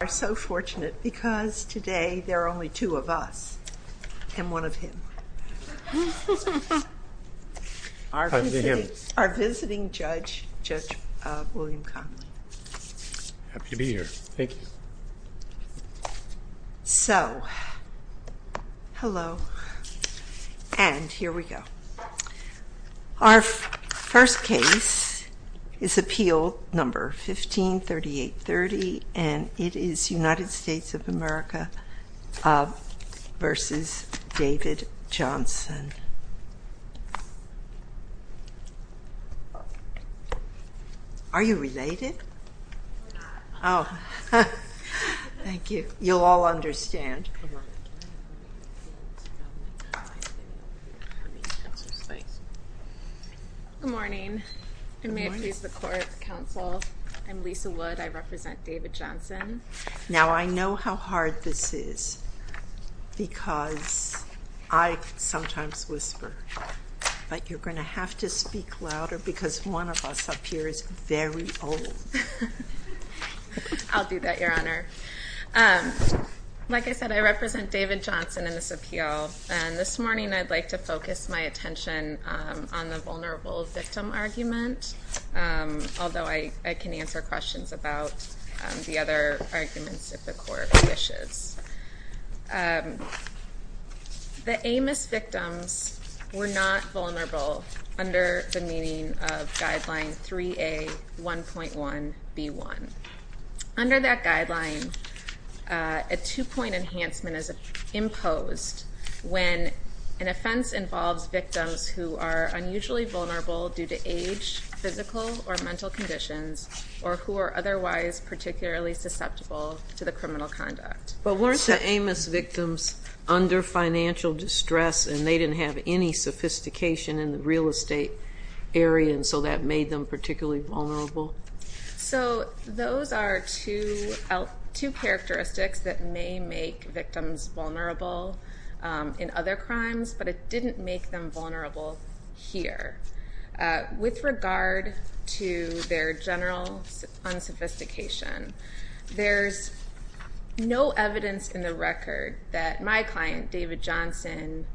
We are so fortunate because today there are only two of us, and one of him, our visiting judge, Judge William Connolly. Happy to be here. Thank you. So, hello, and here we go. Our first case is appeal number 153830, and it is United States of America v. David Johnson. Are you related? Oh, thank you. You'll all understand. Good morning. I'm Lisa Wood. I represent David Johnson. Now, I know how hard this is because I sometimes whisper, but you're going to have to speak louder because one of us up here is very old. I'll do that, Your Honor. Like I said, I represent David Johnson in this appeal, and this morning I'd like to focus my attention on the vulnerable victim argument, although I can answer questions about the other arguments if the Court wishes. The Amos victims were not vulnerable under the meaning of Guideline 3A1.1b1. Under that guideline, a two-point enhancement is imposed when an offense involves victims who are unusually vulnerable due to age, physical or mental conditions, or who are otherwise particularly susceptible to the criminal conduct. But weren't the Amos victims under financial distress, and they didn't have any sophistication in the real estate area, and so that made them particularly vulnerable? So those are two characteristics that may make victims vulnerable in other crimes, but it didn't make them vulnerable here. With regard to their general unsophistication, there's no evidence in the record that my client, David Johnson,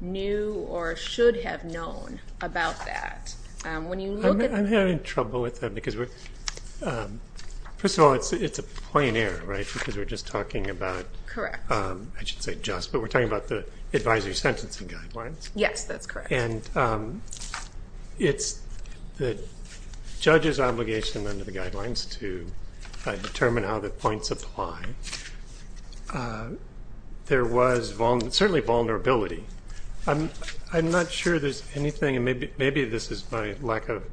knew or should have known about that. I'm having trouble with that because, first of all, it's a point error, right? Because we're just talking about, I should say just, but we're talking about the advisory sentencing guidelines. Yes, that's correct. And it's the judge's obligation under the guidelines to determine how the points apply. There was certainly vulnerability. I'm not sure there's anything, and maybe this is my lack of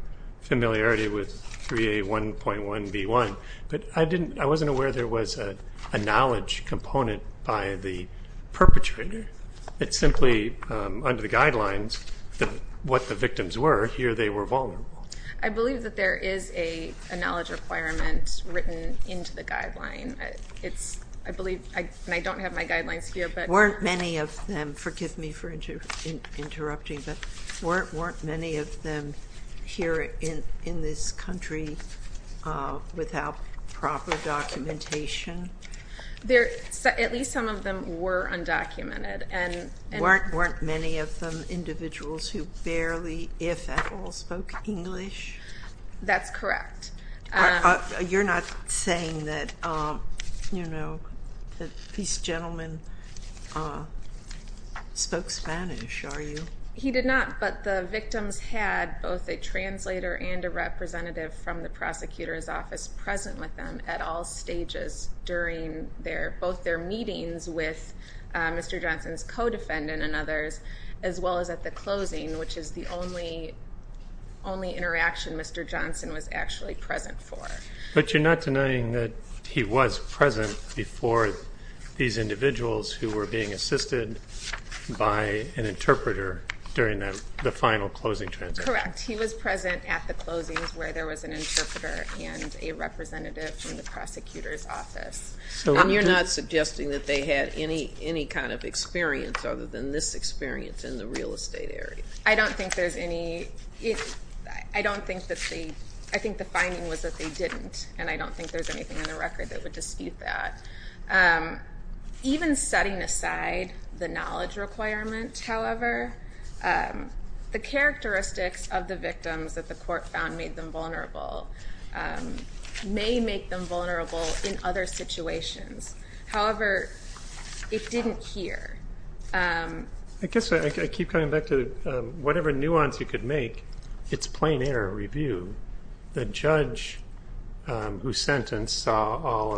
familiarity with 3A1.1b1, but I wasn't aware there was a knowledge component by the perpetrator. It's simply under the guidelines what the victims were. Here they were vulnerable. I believe that there is a knowledge requirement written into the guideline. I believe, and I don't have my guidelines here. Weren't many of them, forgive me for interrupting, but weren't many of them here in this country without proper documentation? At least some of them were undocumented. Weren't many of them individuals who barely, if at all, spoke English? That's correct. You're not saying that this gentleman spoke Spanish, are you? He did not, but the victims had both a translator and a representative from the prosecutor's office present with them at all stages during both their meetings with Mr. Johnson's co-defendant and others, as well as at the closing, which is the only interaction Mr. Johnson was actually present for. But you're not denying that he was present before these individuals who were being assisted by an interpreter during the final closing transition? Correct. He was present at the closings where there was an interpreter and a representative from the prosecutor's office. So you're not suggesting that they had any kind of experience other than this experience in the real estate area? I don't think there's any. I don't think that they, I think the finding was that they didn't, and I don't think there's anything in the record that would dispute that. Even setting aside the knowledge requirement, however, the characteristics of the victims that the court found made them vulnerable may make them vulnerable in other situations. However, it didn't here. I guess I keep coming back to whatever nuance you could make, it's plain error review. The judge who sentenced saw all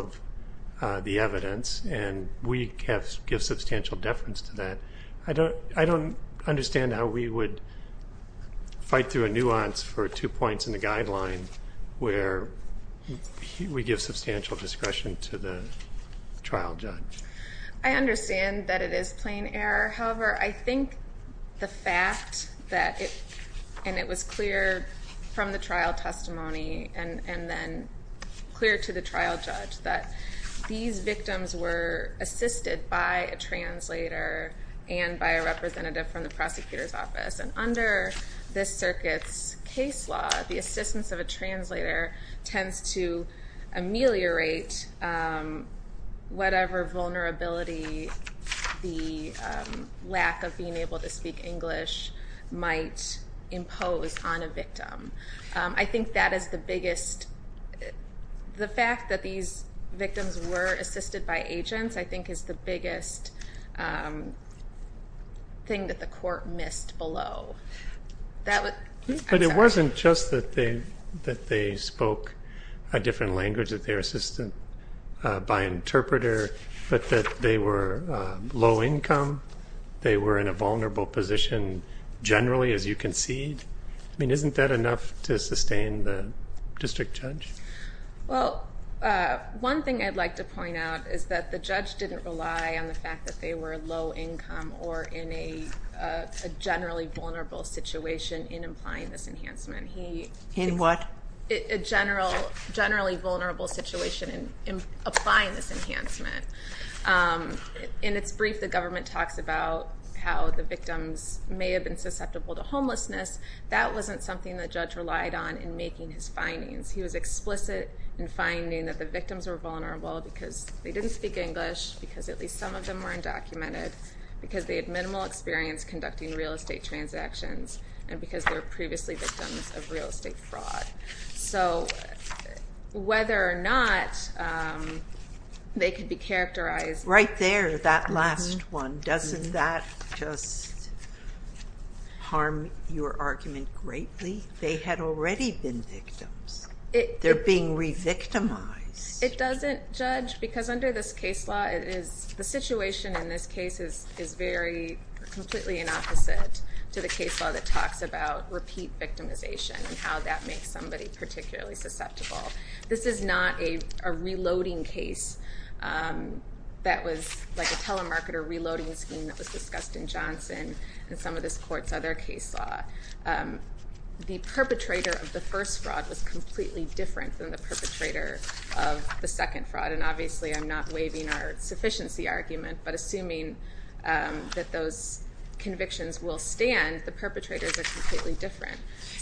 of the evidence, and we give substantial deference to that. I don't understand how we would fight through a nuance for two points in the guideline where we give substantial discretion to the trial judge. I understand that it is plain error. However, I think the fact that it, and it was clear from the trial testimony and then clear to the trial judge that these victims were assisted by a translator and by a representative from the prosecutor's office. And under this circuit's case law, the assistance of a translator tends to ameliorate whatever vulnerability the lack of being able to speak English might impose on a victim. I think that is the biggest, the fact that these victims were assisted by agents I think is the biggest thing that the court missed below. I'm sorry. But it wasn't just that they spoke a different language, that they were assisted by an interpreter, but that they were low income, they were in a vulnerable position generally as you concede. I mean, isn't that enough to sustain the district judge? Well, one thing I'd like to point out is that the judge didn't rely on the fact that they were low income or in a generally vulnerable situation in implying this enhancement. In what? A generally vulnerable situation in applying this enhancement. In its brief, the government talks about how the victims may have been susceptible to homelessness. That wasn't something the judge relied on in making his findings. He was explicit in finding that the victims were vulnerable because they didn't speak English, because at least some of them were undocumented, because they had minimal experience conducting real estate transactions, and because they were previously victims of real estate fraud. So whether or not they could be characterized- Right there, that last one. Doesn't that just harm your argument greatly? They had already been victims. They're being re-victimized. It doesn't, Judge, because under this case law, the situation in this case is completely an opposite to the case law that talks about repeat victimization and how that makes somebody particularly susceptible. This is not a reloading case that was like a telemarketer reloading scheme that was discussed in Johnson and some of this court's other case law. The perpetrator of the first fraud was completely different than the perpetrator of the second fraud. And obviously I'm not waiving our sufficiency argument, but assuming that those convictions will stand, the perpetrators are completely different.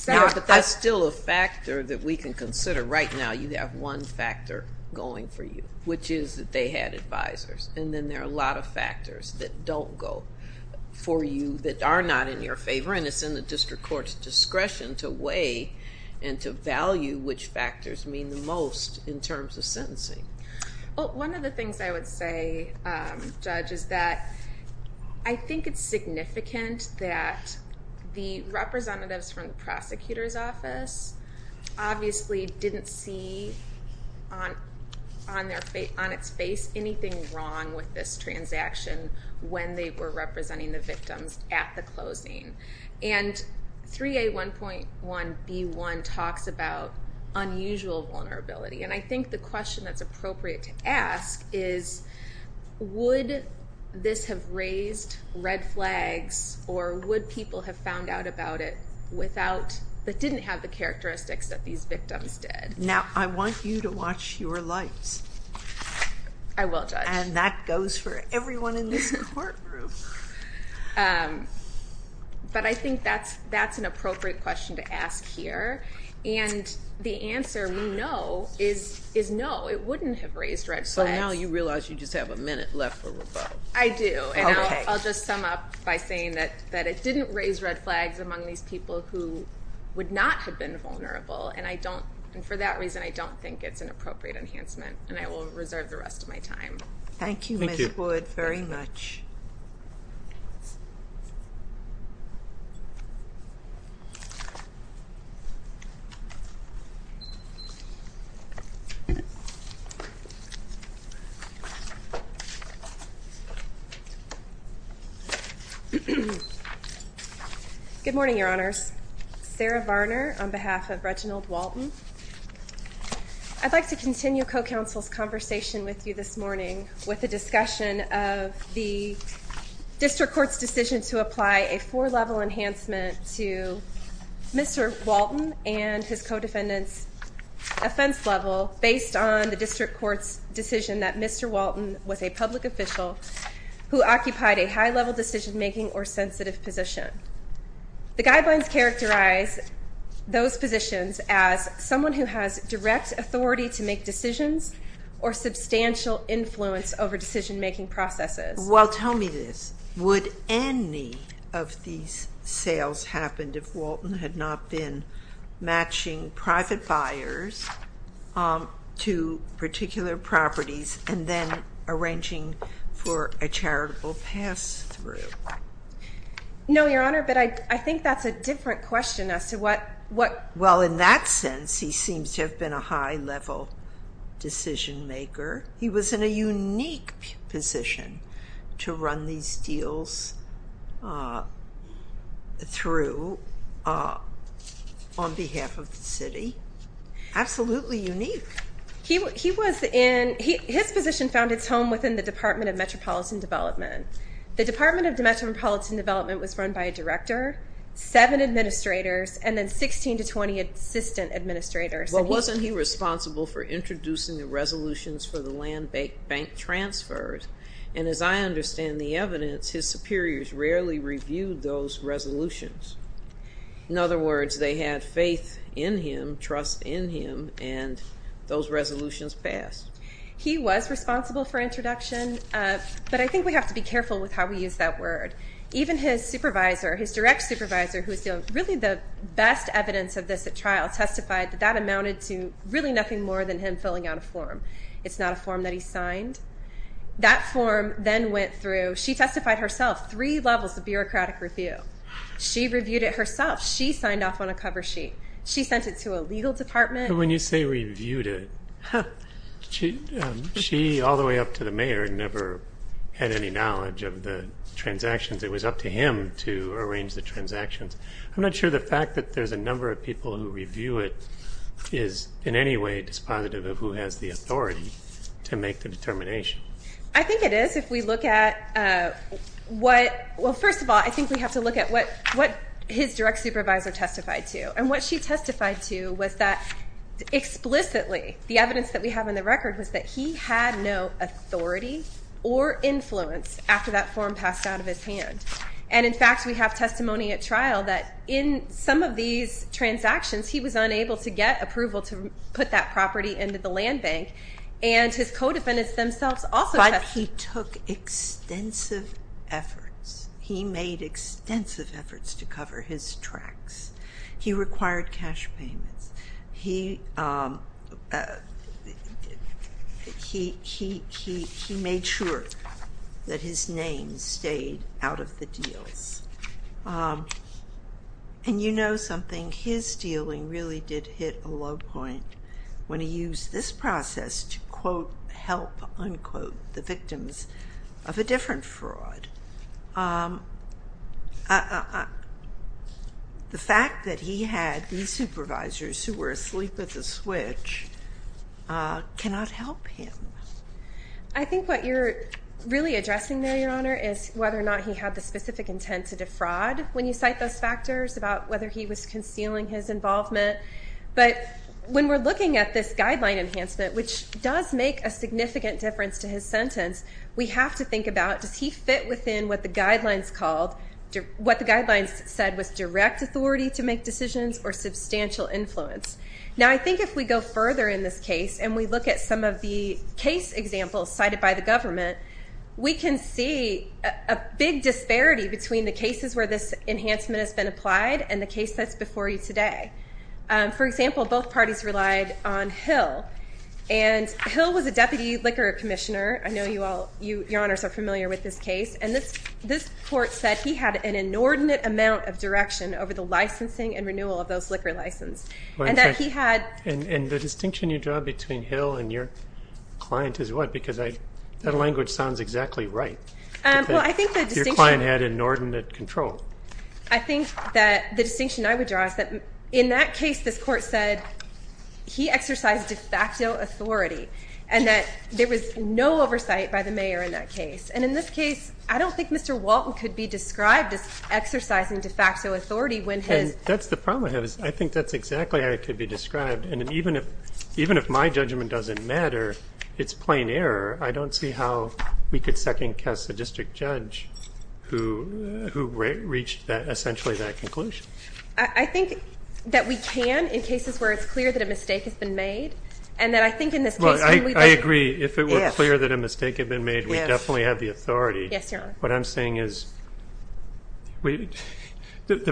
But that's still a factor that we can consider. Right now, you have one factor going for you, which is that they had advisors. And then there are a lot of factors that don't go for you that are not in your favor, and it's in the district court's discretion to weigh and to value which factors mean the most in terms of sentencing. One of the things I would say, Judge, is that I think it's significant that the representatives from the prosecutor's office obviously didn't see on its face anything wrong with this transaction when they were representing the victims at the closing. And 3A1.1B1 talks about unusual vulnerability. And I think the question that's appropriate to ask is, would this have raised red flags or would people have found out about it without, that didn't have the characteristics that these victims did? Now, I want you to watch your lights. I will, Judge. And that goes for everyone in this courtroom. But I think that's an appropriate question to ask here. And the answer, no, is no, it wouldn't have raised red flags. So now you realize you just have a minute left for rebuttal. I do. And I'll just sum up by saying that it didn't raise red flags among these people who would not have been vulnerable. And for that reason, I don't think it's an appropriate enhancement. And I will reserve the rest of my time. Thank you, Ms. Wood, very much. Thank you. Good morning, Your Honors. Sarah Varner on behalf of Reginald Walton. I'd like to continue co-counsel's conversation with you this morning with a discussion of the district court's decision to apply a four-level enhancement to Mr. Walton and his co-defendant's offense level based on the district court's decision that Mr. Walton was a public official who occupied a high-level decision-making or sensitive position. The guidelines characterize those positions as someone who has direct authority to make decisions or substantial influence over decision-making processes. Well, tell me this. Would any of these sales happen if Walton had not been matching private buyers to particular properties and then arranging for a charitable pass-through? No, Your Honor, but I think that's a different question as to what… Well, in that sense, he seems to have been a high-level decision-maker. He was in a unique position to run these deals through on behalf of the city, absolutely unique. His position found its home within the Department of Metropolitan Development. The Department of Metropolitan Development was run by a director, seven administrators, and then 16 to 20 assistant administrators. Well, wasn't he responsible for introducing the resolutions for the land bank transfers? And as I understand the evidence, his superiors rarely reviewed those resolutions. In other words, they had faith in him, trust in him, and those resolutions passed. He was responsible for introduction, but I think we have to be careful with how we use that word. Even his supervisor, his direct supervisor, who is really the best evidence of this at trial, testified that that amounted to really nothing more than him filling out a form. It's not a form that he signed. That form then went through. She testified herself, three levels of bureaucratic review. She reviewed it herself. She signed off on a cover sheet. She sent it to a legal department. When you say reviewed it, she, all the way up to the mayor, never had any knowledge of the transactions. It was up to him to arrange the transactions. I'm not sure the fact that there's a number of people who review it is in any way dispositive of who has the authority to make the determination. I think it is if we look at what, well, first of all, I think we have to look at what his direct supervisor testified to. What she testified to was that explicitly the evidence that we have in the record was that he had no authority or influence after that form passed out of his hand. In fact, we have testimony at trial that in some of these transactions, he was unable to get approval to put that property into the land bank. His co-defendants themselves also testified. He took extensive efforts. He made extensive efforts to cover his tracks. He required cash payments. He made sure that his name stayed out of the deals. And you know something? His dealing really did hit a low point when he used this process to, quote, help, unquote, the victims of a different fraud. The fact that he had these supervisors who were asleep at the switch cannot help him. I think what you're really addressing there, Your Honor, is whether or not he had the specific intent to defraud when you cite those factors about whether he was concealing his involvement. But when we're looking at this guideline enhancement, which does make a significant difference to his sentence, we have to think about does he fit within what the guidelines called, what the guidelines said was direct authority to make decisions or substantial influence. Now, I think if we go further in this case and we look at some of the case examples cited by the government, we can see a big disparity between the cases where this enhancement has been applied and the case that's before you today. For example, both parties relied on Hill. And Hill was a deputy liquor commissioner. I know you all, Your Honors, are familiar with this case. And this court said he had an inordinate amount of direction over the licensing and renewal of those liquor licenses. And the distinction you draw between Hill and your client is what? Because that language sounds exactly right. Your client had inordinate control. I think that the distinction I would draw is that in that case, this court said he exercised de facto authority and that there was no oversight by the mayor in that case. And in this case, I don't think Mr. Walton could be described as exercising de facto authority. And that's the problem I have. I think that's exactly how it could be described. And even if my judgment doesn't matter, it's plain error. I don't see how we could second-guess a district judge who reached essentially that conclusion. I think that we can in cases where it's clear that a mistake has been made. And that I think in this case when we look at it. Well, I agree. If it were clear that a mistake had been made, we definitely have the authority. Yes, Your Honor. What I'm saying is the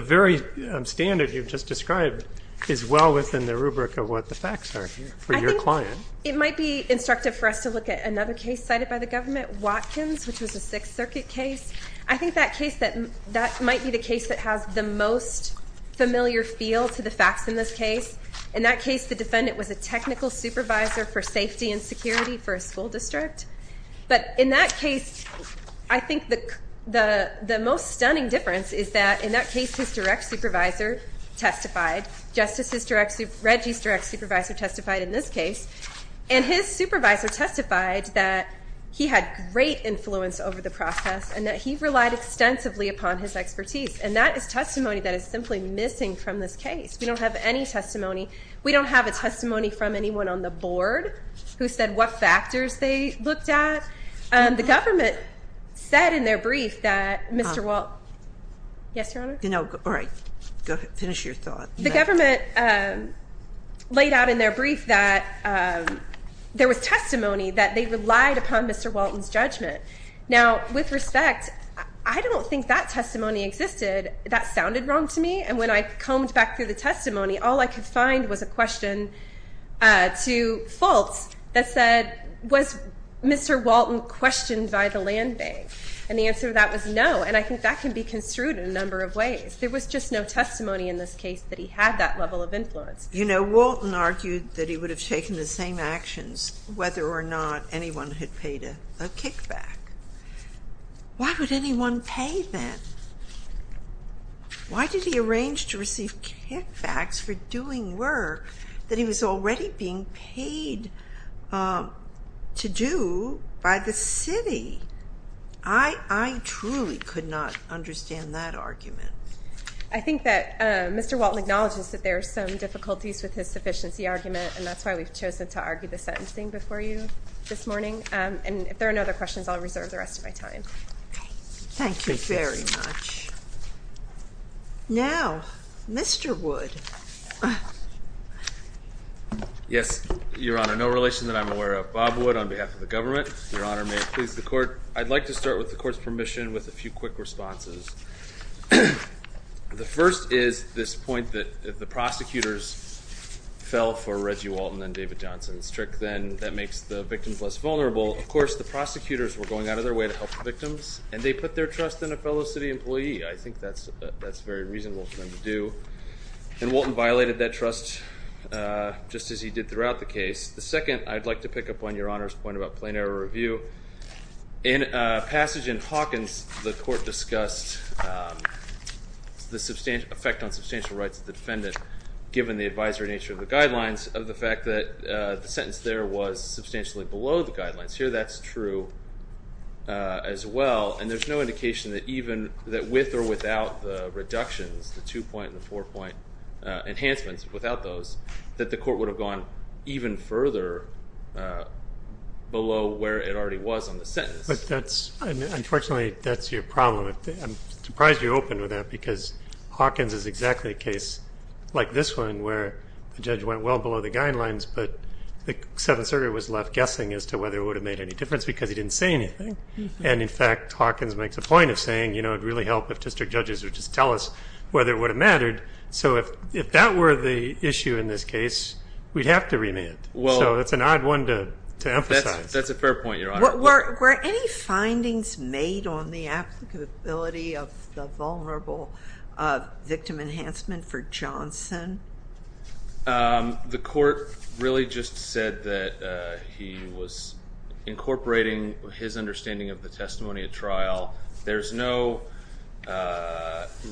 very standard you've just described is well within the rubric of what the facts are for your client. I think it might be instructive for us to look at another case cited by the government, Watkins, which was a Sixth Circuit case. I think that case that might be the case that has the most familiar feel to the facts in this case. In that case, the defendant was a technical supervisor for safety and security for a school district. But in that case, I think the most stunning difference is that in that case his direct supervisor testified. Justice Reggie's direct supervisor testified in this case. And his supervisor testified that he had great influence over the process and that he relied extensively upon his expertise. And that is testimony that is simply missing from this case. We don't have any testimony. We don't have a testimony from anyone on the board who said what factors they looked at. The government said in their brief that Mr. Walton. Yes, Your Honor. All right. Go ahead. Finish your thought. The government laid out in their brief that there was testimony that they relied upon Mr. Walton's judgment. Now, with respect, I don't think that testimony existed. That sounded wrong to me. And when I combed back through the testimony, all I could find was a question to Fultz that said, was Mr. Walton questioned by the land bank? And the answer to that was no. And I think that can be construed in a number of ways. There was just no testimony in this case that he had that level of influence. You know, Walton argued that he would have taken the same actions whether or not anyone had paid a kickback. Why would anyone pay then? Why did he arrange to receive kickbacks for doing work that he was already being paid to do by the city? I truly could not understand that argument. I think that Mr. Walton acknowledges that there are some difficulties with his sufficiency argument, and that's why we've chosen to argue the sentencing before you this morning. And if there are no other questions, I'll reserve the rest of my time. Thank you very much. Now, Mr. Wood. Yes, Your Honor. No relation that I'm aware of. Bob Wood on behalf of the government. Your Honor, may it please the Court. I'd like to start with the Court's permission with a few quick responses. The first is this point that if the prosecutors fell for Reggie Walton and David Johnson's trick, then that makes the victims less vulnerable. Of course, the prosecutors were going out of their way to help the victims, and they put their trust in a fellow city employee. I think that's a very reasonable thing to do. And Walton violated that trust just as he did throughout the case. The second, I'd like to pick up on Your Honor's point about plain error review. In a passage in Hawkins, the Court discussed the effect on substantial rights of the defendant, given the advisory nature of the guidelines, of the fact that the sentence there was substantially below the guidelines. Here that's true as well. And there's no indication that even with or without the reductions, the two-point and the four-point enhancements, without those, that the Court would have gone even further below where it already was on the sentence. Unfortunately, that's your problem. I'm surprised you're open to that because Hawkins is exactly a case like this one, where the judge went well below the guidelines, but the seventh circuit was left guessing as to whether it would have made any difference because he didn't say anything. And, in fact, Hawkins makes a point of saying, you know, it would really help if district judges would just tell us whether it would have mattered. So if that were the issue in this case, we'd have to remand. So it's an odd one to emphasize. That's a fair point, Your Honor. Were any findings made on the applicability of the vulnerable victim enhancement for Johnson? The Court really just said that he was incorporating his understanding of the testimony at trial. There's no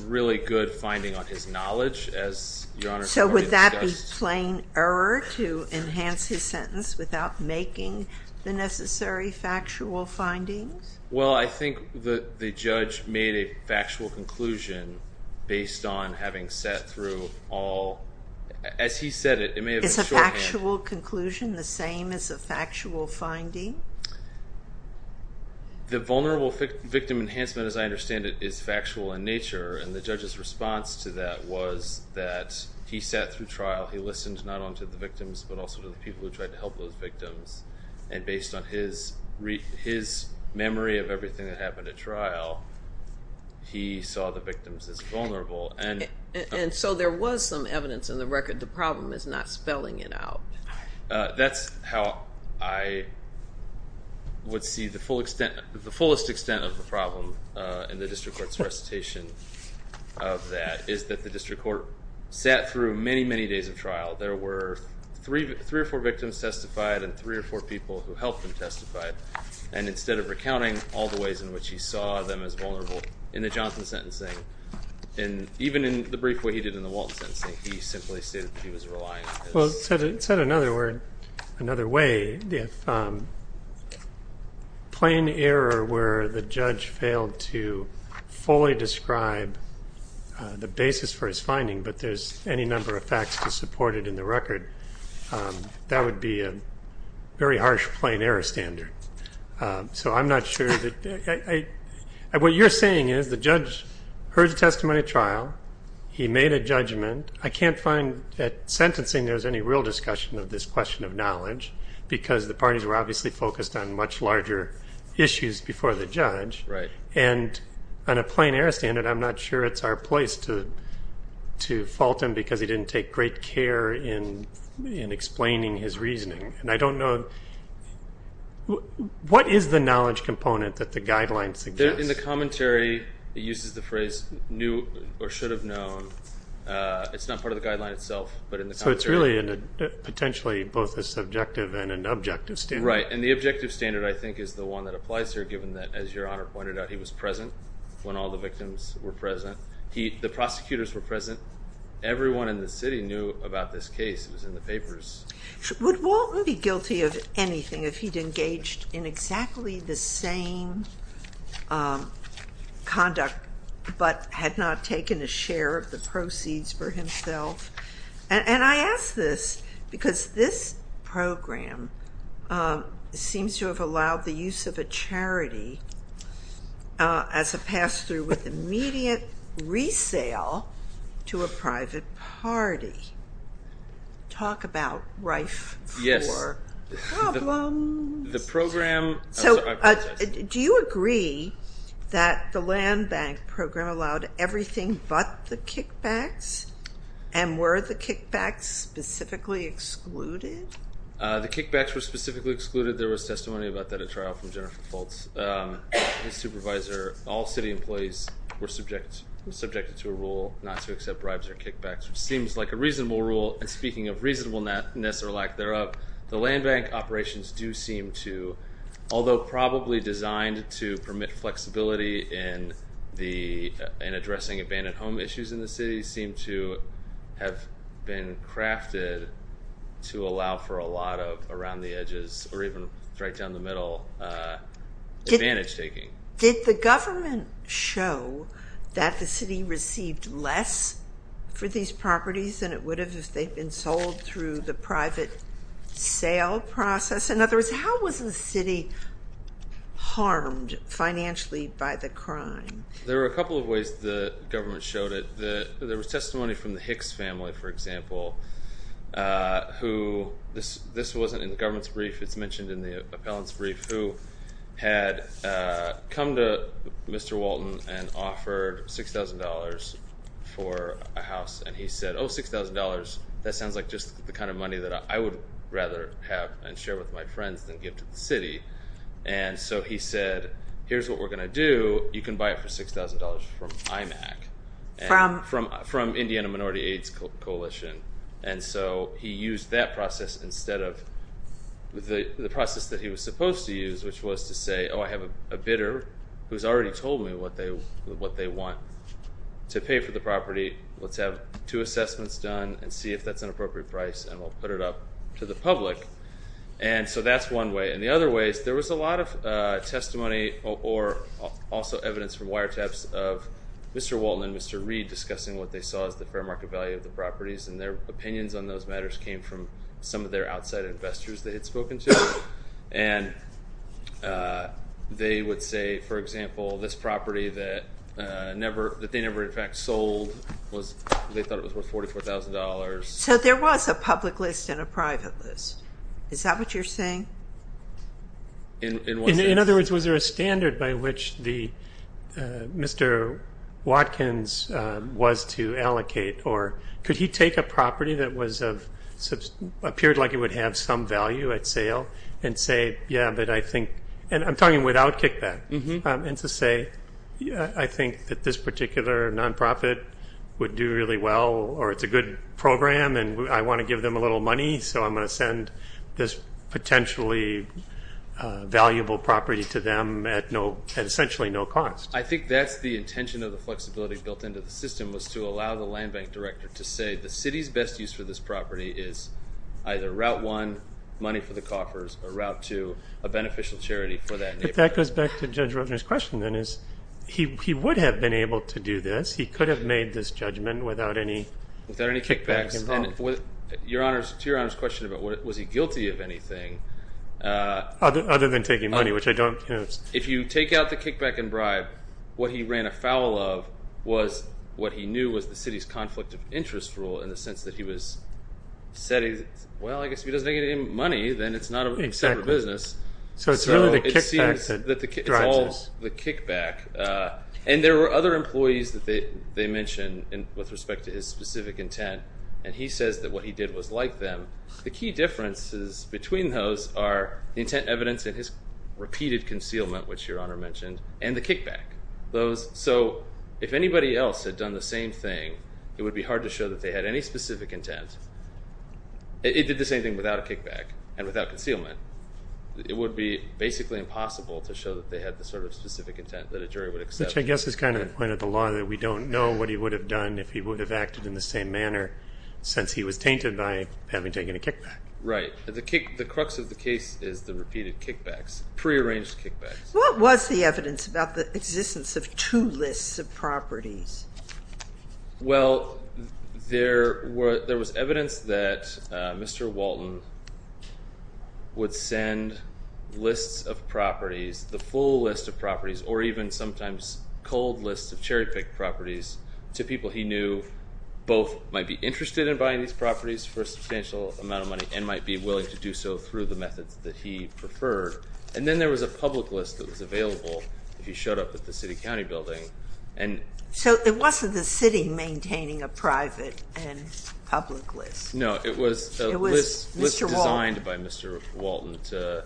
really good finding on his knowledge, as Your Honor has already discussed. So would that be plain error to enhance his sentence without making the necessary factual findings? Well, I think the judge made a factual conclusion based on having sat through all. As he said it, it may have been shorthand. Is a factual conclusion the same as a factual finding? The vulnerable victim enhancement, as I understand it, is factual in nature, and the judge's response to that was that he sat through trial. He listened not only to the victims but also to the people who tried to help those victims. And based on his memory of everything that happened at trial, he saw the victims as vulnerable. And so there was some evidence in the record the problem is not spelling it out. That's how I would see the fullest extent of the problem in the district court's recitation of that, is that the district court sat through many, many days of trial. There were three or four victims testified and three or four people who helped them testify. And instead of recounting all the ways in which he saw them as vulnerable in the Johnson sentencing, and even in the brief way he did in the Walton sentencing, he simply stated that he was relying on his He said it another way. If plain error were the judge failed to fully describe the basis for his finding but there's any number of facts to support it in the record, that would be a very harsh plain error standard. So I'm not sure. What you're saying is the judge heard the testimony at trial, he made a judgment. I can't find at sentencing there's any real discussion of this question of knowledge because the parties were obviously focused on much larger issues before the judge. And on a plain error standard, I'm not sure it's our place to fault him because he didn't take great care in explaining his reasoning. And I don't know, what is the knowledge component that the guidelines suggest? In the commentary, it uses the phrase, knew or should have known. It's not part of the guideline itself, but in the commentary. So it's really potentially both a subjective and an objective standard. Right, and the objective standard, I think, is the one that applies here given that, as Your Honor pointed out, he was present when all the victims were present. The prosecutors were present. Everyone in the city knew about this case. It was in the papers. Would Walton be guilty of anything if he'd engaged in exactly the same conduct but had not taken a share of the proceeds for himself? And I ask this because this program seems to have allowed the use of a charity as a pass-through with immediate resale to a private party. Talk about rife for problems. The program, I apologize. Do you agree that the land bank program allowed everything but the kickbacks? And were the kickbacks specifically excluded? The kickbacks were specifically excluded. There was testimony about that at trial from Jennifer Foltz, his supervisor. All city employees were subjected to a rule not to accept bribes or kickbacks, which seems like a reasonable rule, and speaking of reasonableness or lack thereof, the land bank operations do seem to, although probably designed to permit flexibility in addressing abandoned home issues in the city, seem to have been crafted to allow for a lot of around the edges or even right down the middle advantage-taking. Did the government show that the city received less for these properties than it would have if they'd been sold through the private sale process? In other words, how was the city harmed financially by the crime? There were a couple of ways the government showed it. There was testimony from the Hicks family, for example, who, this wasn't in the government's brief, it's mentioned in the appellant's brief, who had come to Mr. Walton and offered $6,000 for a house, and he said, oh, $6,000, that sounds like just the kind of money that I would rather have and share with my friends than give to the city. And so he said, here's what we're going to do. You can buy it for $6,000 from IMAC, from Indiana Minority AIDS Coalition. And so he used that process instead of the process that he was supposed to use, which was to say, oh, I have a bidder who's already told me what they want. To pay for the property, let's have two assessments done and see if that's an appropriate price, and we'll put it up to the public. And so that's one way. And the other way is there was a lot of testimony or also evidence from wiretaps of Mr. Walton and Mr. Reed discussing what they saw as the fair market value of the properties, and their opinions on those matters came from some of their outside investors they had spoken to. And they would say, for example, this property that they never in fact sold, they thought it was worth $44,000. So there was a public list and a private list. Is that what you're saying? In other words, was there a standard by which Mr. Watkins was to allocate or could he take a property that appeared like it would have some value at sale and say, yeah, but I think, and I'm talking without kickback, and to say I think that this particular nonprofit would do really well or it's a good program and I want to give them a little money, so I'm going to send this potentially valuable property to them at essentially no cost. I think that's the intention of the flexibility built into the system was to allow the land bank director to say the city's best use for this property is either route one, money for the coffers, or route two, a beneficial charity for that neighborhood. But that goes back to Judge Roebner's question then is he would have been able to do this. He could have made this judgment without any kickback involved. Without any kickbacks. And to Your Honor's question about was he guilty of anything. Other than taking money, which I don't. If you take out the kickback and bribe, what he ran afoul of was what he knew was the city's conflict of interest rule in the sense that he was setting, well, I guess if he doesn't get any money, then it's not a separate business. So it's really the kickback that drives this. It's all the kickback. And there were other employees that they mentioned with respect to his specific intent, and he says that what he did was like them. The key differences between those are the intent evidence and his repeated concealment, which Your Honor mentioned, and the kickback. So if anybody else had done the same thing, it would be hard to show that they had any specific intent. It did the same thing without a kickback and without concealment. It would be basically impossible to show that they had the sort of specific intent that a jury would accept. Which I guess is kind of the point of the law, that we don't know what he would have done if he would have acted in the same manner since he was tainted by having taken a kickback. Right. The crux of the case is the repeated kickbacks, prearranged kickbacks. What was the evidence about the existence of two lists of properties? Well, there was evidence that Mr. Walton would send lists of properties, the full list of properties, or even sometimes cold lists of cherry-picked properties, to people he knew both might be interested in buying these properties for a substantial amount of money and might be willing to do so through the methods that he preferred. And then there was a public list that was available if he showed up at the city county building. So it wasn't the city maintaining a private and public list. No, it was a list designed by Mr. Walton to,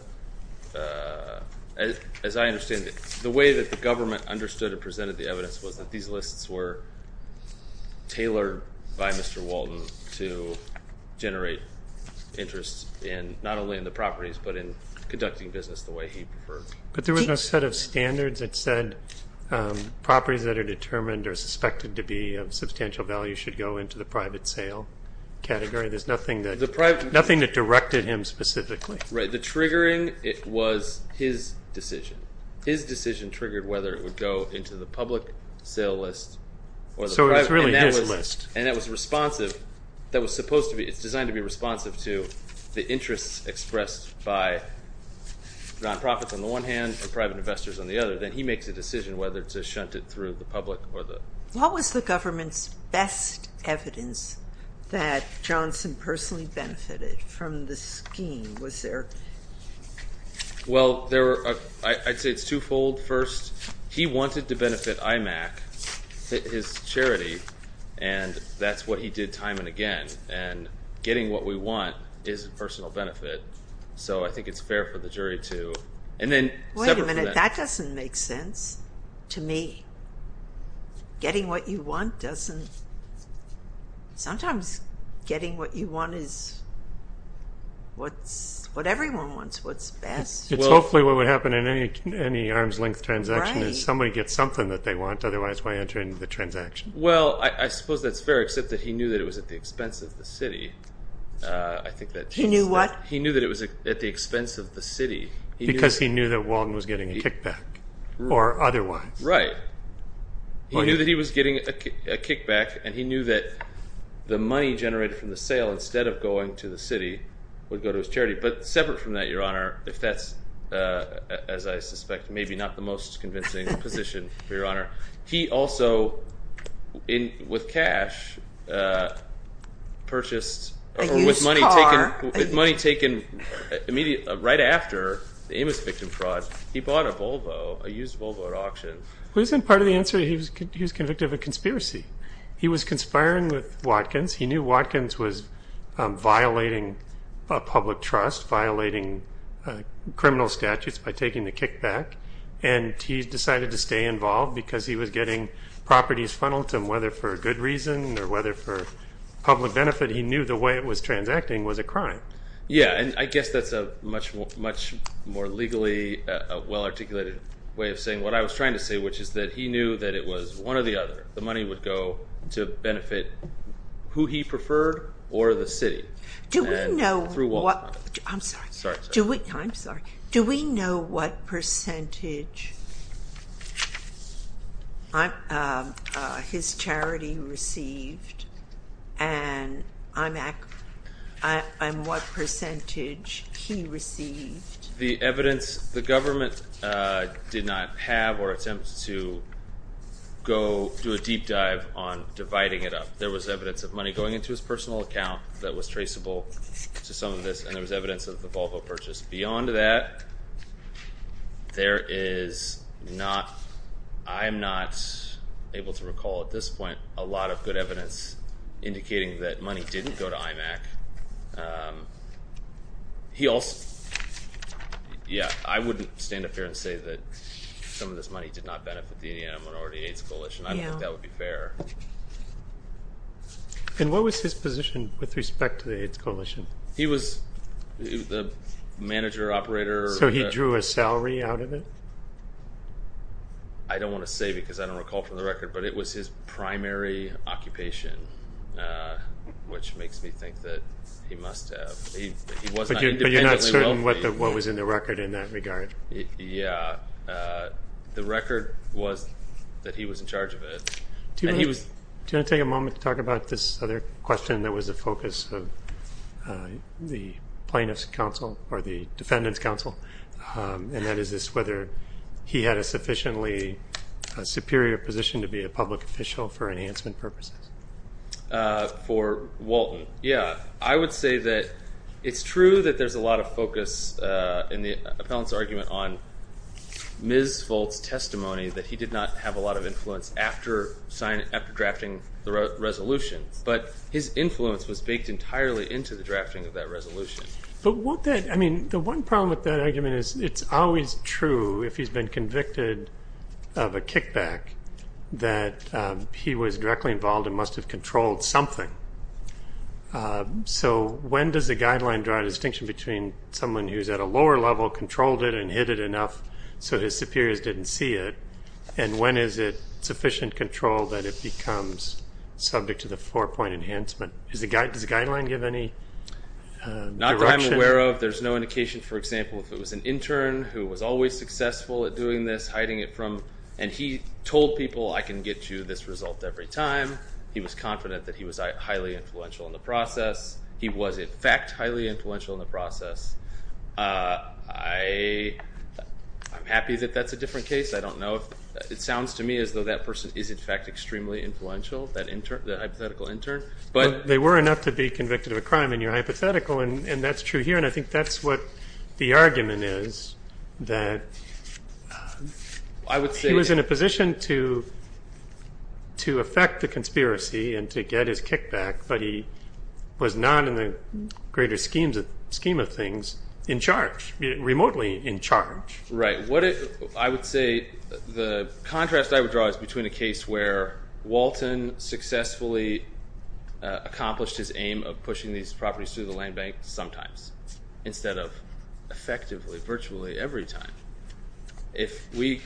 as I understand it, the way that the government understood and presented the evidence was that these lists were tailored by Mr. Walton to generate interest not only in the properties but in conducting business the way he preferred. But there was no set of standards that said properties that are determined or suspected to be of substantial value should go into the private sale category. There's nothing that directed him specifically. Right. The triggering was his decision. His decision triggered whether it would go into the public sale list or the private. So it was really his list. And that was responsive. It's designed to be responsive to the interests expressed by non-profits on the one hand and private investors on the other. Then he makes a decision whether to shunt it through the public or the private. What was the government's best evidence that Johnson personally benefited from the scheme? Well, I'd say it's twofold. First, he wanted to benefit IMAC, his charity, and that's what he did time and again. And getting what we want is a personal benefit. So I think it's fair for the jury to separate from that. Wait a minute. That doesn't make sense to me. Getting what you want doesn't. Sometimes getting what you want is what everyone wants, what's best. It's hopefully what would happen in any arm's-length transaction is somebody gets something that they want. Otherwise, why enter into the transaction? Well, I suppose that's fair, except that he knew that it was at the expense of the city. He knew what? He knew that it was at the expense of the city. Because he knew that Walden was getting a kickback or otherwise. Right. He knew that he was getting a kickback, and he knew that the money generated from the sale instead of going to the city would go to his charity. But separate from that, Your Honor, if that's, as I suspect, maybe not the most convincing position for Your Honor, he also, with cash, purchased or with money taken right after the Amos victim fraud, he bought a Volvo, a used Volvo at auction. Well, isn't part of the answer he was convicted of a conspiracy? He was conspiring with Watkins. He knew Watkins was violating public trust, violating criminal statutes by taking the kickback, and he decided to stay involved because he was getting properties funneled to him, whether for good reason or whether for public benefit. He knew the way it was transacting was a crime. Yeah, and I guess that's a much more legally well-articulated way of saying what I was trying to say, which is that he knew that it was one or the other. The money would go to benefit who he preferred or the city through Walden. I'm sorry. I'm sorry. Do we know what percentage his charity received and what percentage he received? The evidence the government did not have or attempt to go do a deep dive on dividing it up. There was evidence of money going into his personal account that was traceable to some of this, and there was evidence of the Volvo purchase. Beyond that, there is not – I am not able to recall at this point a lot of good evidence indicating that money didn't go to IMAC. Yeah, I wouldn't stand up here and say that some of this money did not benefit the Indiana Minority Aids Coalition. I don't think that would be fair. And what was his position with respect to the AIDS Coalition? He was the manager, operator. So he drew a salary out of it? I don't want to say because I don't recall from the record, but it was his primary occupation, which makes me think that he must have. But you're not certain what was in the record in that regard? Yeah, the record was that he was in charge of it. Do you want to take a moment to talk about this other question that was the focus of the plaintiff's counsel or the defendant's counsel, and that is whether he had a sufficiently superior position to be a public official for enhancement purposes? For Walton, yeah. I would say that it's true that there's a lot of focus in the appellant's argument on Ms. Volk's testimony that he did not have a lot of influence after drafting the resolution, but his influence was baked entirely into the drafting of that resolution. But the one problem with that argument is it's always true if he's been convicted of a kickback that he was directly involved and must have controlled something. So when does the guideline draw a distinction between someone who's at a lower level, controlled it and hit it enough so his superiors didn't see it, and when is it sufficient control that it becomes subject to the four-point enhancement? Does the guideline give any direction? Not that I'm aware of. There's no indication, for example, if it was an intern who was always successful at doing this, who he was hiding it from, and he told people, I can get you this result every time. He was confident that he was highly influential in the process. He was, in fact, highly influential in the process. I'm happy that that's a different case. I don't know if it sounds to me as though that person is, in fact, extremely influential, that hypothetical intern. But they were enough to be convicted of a crime in your hypothetical, and that's true here, and I think that's what the argument is, that he was in a position to affect the conspiracy and to get his kickback, but he was not, in the greater scheme of things, in charge, remotely in charge. Right. I would say the contrast I would draw is between a case where Walton successfully accomplished his aim of pushing these properties through the land bank sometimes instead of effectively virtually every time. If the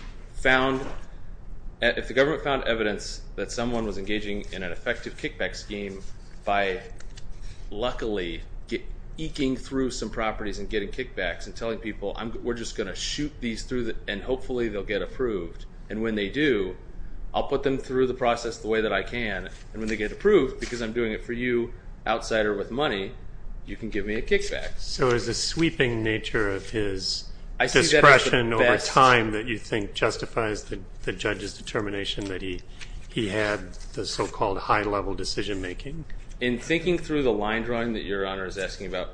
government found evidence that someone was engaging in an effective kickback scheme by luckily eking through some properties and getting kickbacks and telling people, we're just going to shoot these through, and hopefully they'll get approved, and when they do, I'll put them through the process the way that I can, and when they get approved, because I'm doing it for you, outsider with money, you can give me a kickback. So is the sweeping nature of his discretion over time that you think justifies the judge's determination that he had the so-called high-level decision-making? In thinking through the line drawing that Your Honor is asking about,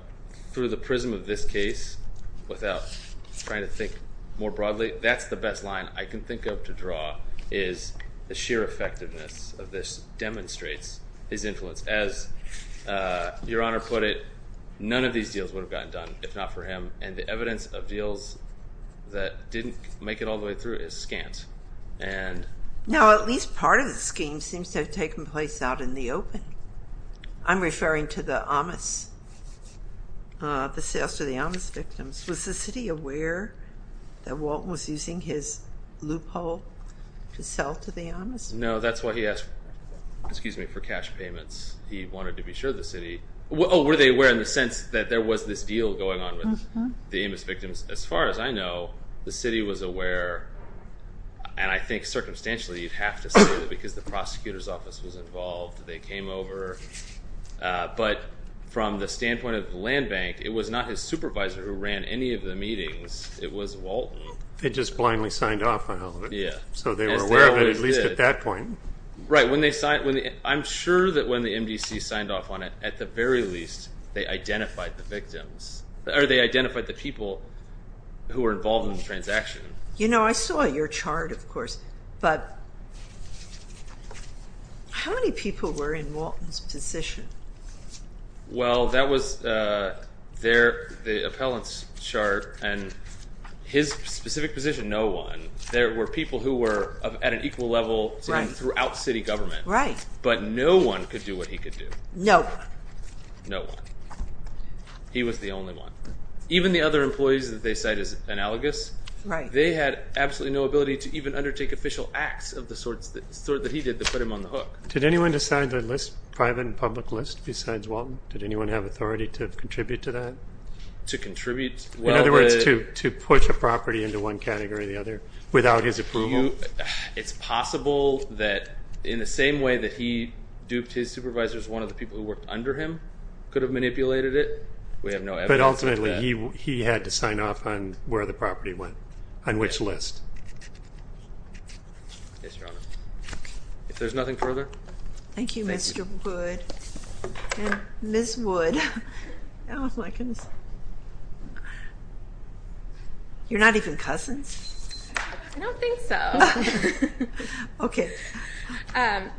through the prism of this case, without trying to think more broadly, that's the best line I can think of to draw is the sheer effectiveness of this demonstrates his influence. As Your Honor put it, none of these deals would have gotten done if not for him, and the evidence of deals that didn't make it all the way through is scant. Now, at least part of the scheme seems to have taken place out in the open. I'm referring to the Amos, the sales to the Amos victims. Was the city aware that Walt was using his loophole to sell to the Amos? No, that's why he asked, excuse me, for cash payments. He wanted to be sure the city, oh, were they aware in the sense that there was this deal going on with the Amos victims? As far as I know, the city was aware, and I think circumstantially you'd have to say that because the prosecutor's office was involved, they came over, but from the standpoint of the land bank, it was not his supervisor who ran any of the meetings. It was Walton. They just blindly signed off on all of it, so they were aware of it, at least at that point. Right. I'm sure that when the MDC signed off on it, at the very least, they identified the victims, or they identified the people who were involved in the transaction. You know, I saw your chart, of course, but how many people were in Walton's position? Well, that was the appellant's chart, and his specific position, no one. There were people who were at an equal level throughout city government. Right. But no one could do what he could do. No one. No one. He was the only one. Even the other employees that they cite as analogous. Right. They had absolutely no ability to even undertake official acts of the sort that he did that put him on the hook. Did anyone decide to list private and public lists besides Walton? Did anyone have authority to contribute to that? To contribute? In other words, to push a property into one category or the other without his approval? It's possible that in the same way that he duped his supervisors, one of the people who worked under him could have manipulated it. But ultimately he had to sign off on where the property went, on which list. Yes, Your Honor. If there's nothing further. Thank you, Mr. Wood. And Ms. Wood. Oh, my goodness. You're not even cousins? I don't think so. Okay.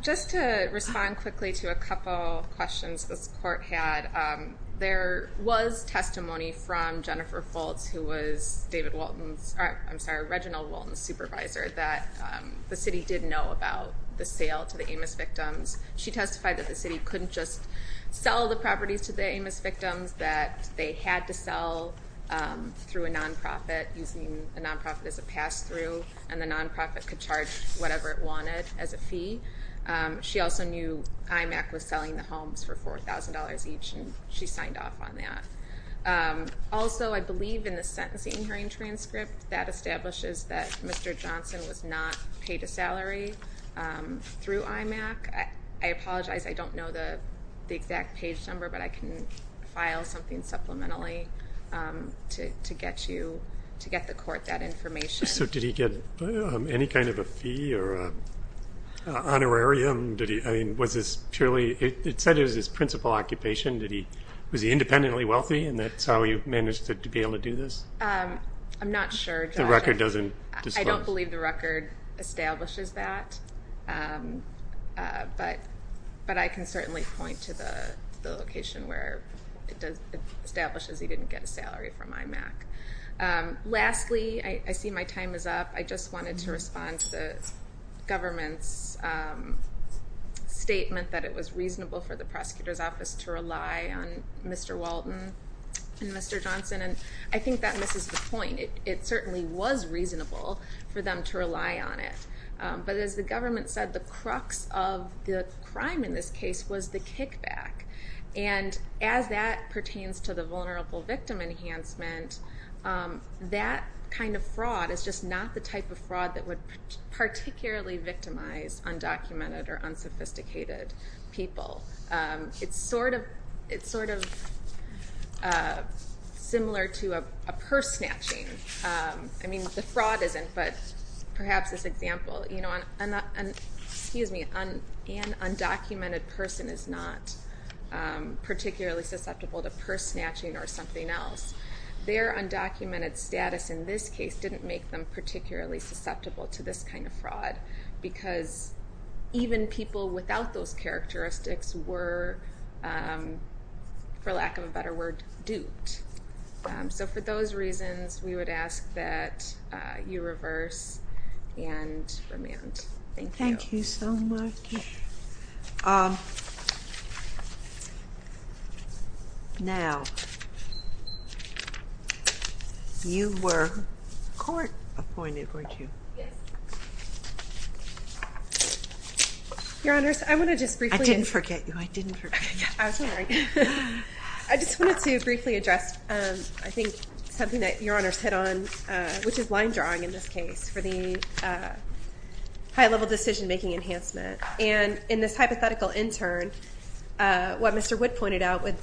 Just to respond quickly to a couple of questions this court had, there was testimony from Jennifer Fultz, who was David Walton's, I'm sorry, Reginald Walton's supervisor, that the city did know about the sale to the Amos victims. She testified that the city couldn't just sell the properties to the Amos victims, that they had to sell through a non-profit using a non-profit as a pass-through, and the non-profit could charge whatever it wanted as a fee. She also knew IMAC was selling the homes for $4,000 each, and she signed off on that. Also, I believe in the sentencing hearing transcript, that establishes that Mr. Johnson was not paid a salary through IMAC. I apologize, I don't know the exact page number, but I can file something supplementally to get you, to get the court that information. So did he get any kind of a fee or honorarium? I mean, was this purely, it said it was his principal occupation. Was he independently wealthy, and that's how he managed to be able to do this? I'm not sure. The record doesn't disclose. I don't believe the record establishes that, but I can certainly point to the location where it establishes he didn't get a salary from IMAC. Lastly, I see my time is up. I just wanted to respond to the government's statement that it was reasonable for the prosecutor's office to rely on Mr. Walton and Mr. Johnson, and I think that misses the point. It certainly was reasonable for them to rely on it, but as the government said, the crux of the crime in this case was the kickback, and as that pertains to the vulnerable victim enhancement, that kind of fraud is just not the type of fraud that would particularly victimize undocumented or unsophisticated people. It's sort of similar to a purse snatching. I mean, the fraud isn't, but perhaps this example. Excuse me. An undocumented person is not particularly susceptible to purse snatching or something else. Their undocumented status in this case didn't make them particularly susceptible to this kind of fraud because even people without those characteristics were, for lack of a better word, duped. So for those reasons, we would ask that you reverse and remand. Thank you. Thank you so much. Now, you were court appointed, weren't you? Yes. Your Honors, I want to just briefly— I didn't forget you. I didn't forget you. I was wondering. I just wanted to briefly address, I think, something that Your Honors hit on, which is line drawing in this case for the high-level decision-making enhancement. And in this hypothetical intern, what Mr. Wood pointed out, if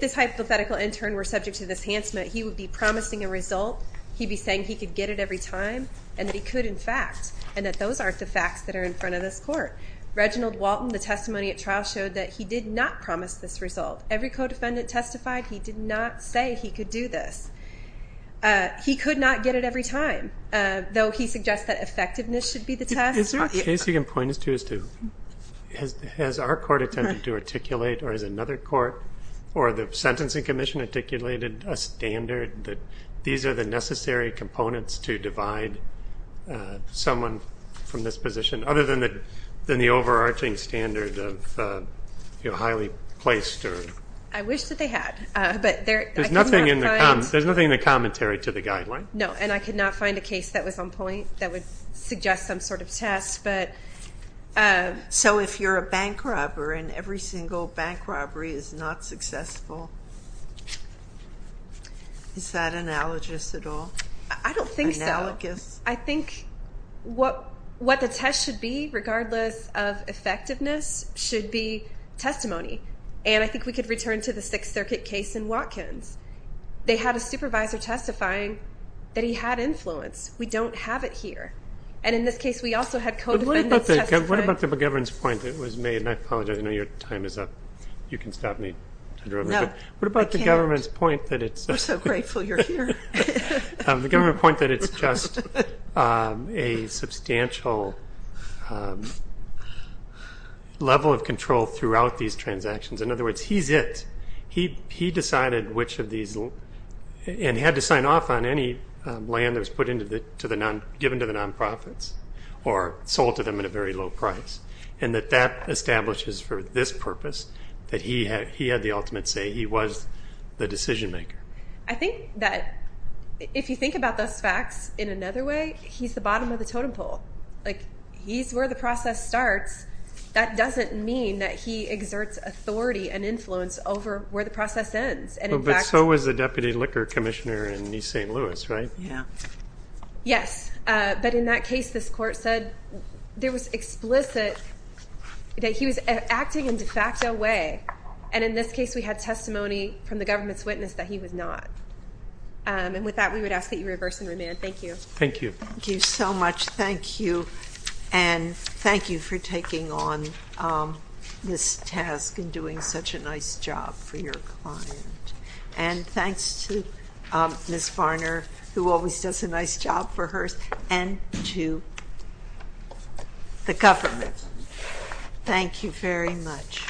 this hypothetical intern were subject to this enhancement, he would be promising a result. He'd be saying he could get it every time and that he could, in fact, and that those aren't the facts that are in front of this court. Reginald Walton, the testimony at trial, showed that he did not promise this result. Every co-defendant testified he did not say he could do this. He could not get it every time, though he suggests that effectiveness should be the test. Is there a case you can point us to as to has our court attempted to articulate or has another court or the Sentencing Commission articulated a standard that these are the necessary components to divide someone from this position, other than the overarching standard of highly placed? I wish that they had. There's nothing in the commentary to the guideline? No, and I could not find a case that was on point that would suggest some sort of test. So if you're a bank robber and every single bank robbery is not successful, is that analogous at all? I don't think so. Analogous? I think what the test should be, regardless of effectiveness, should be testimony, and I think we could return to the Sixth Circuit case in Watkins. They had a supervisor testifying that he had influence. We don't have it here. And in this case, we also had co-defendants testify. What about the government's point that was made? And I apologize, I know your time is up. You can stop me. No, I can't. What about the government's point that it's just? We're so grateful you're here. The government's point that it's just a substantial level of control throughout these transactions. In other words, he's it. He decided which of these, and had to sign off on any land that was given to the nonprofits or sold to them at a very low price, and that that establishes for this purpose that he had the ultimate say, he was the decision maker. I think that if you think about those facts in another way, he's the bottom of the totem pole. He's where the process starts. That doesn't mean that he exerts authority and influence over where the process ends. But so was the Deputy Liquor Commissioner in East St. Louis, right? Yeah. Yes, but in that case, this court said there was explicit that he was acting in de facto way, and in this case, we had testimony from the government's witness that he was not. And with that, we would ask that you reverse and remand. Thank you. Thank you. Thank you so much. Thank you, and thank you for taking on this task and doing such a nice job for your client. And thanks to Ms. Varner, who always does a nice job for hers, and to the government. Thank you very much.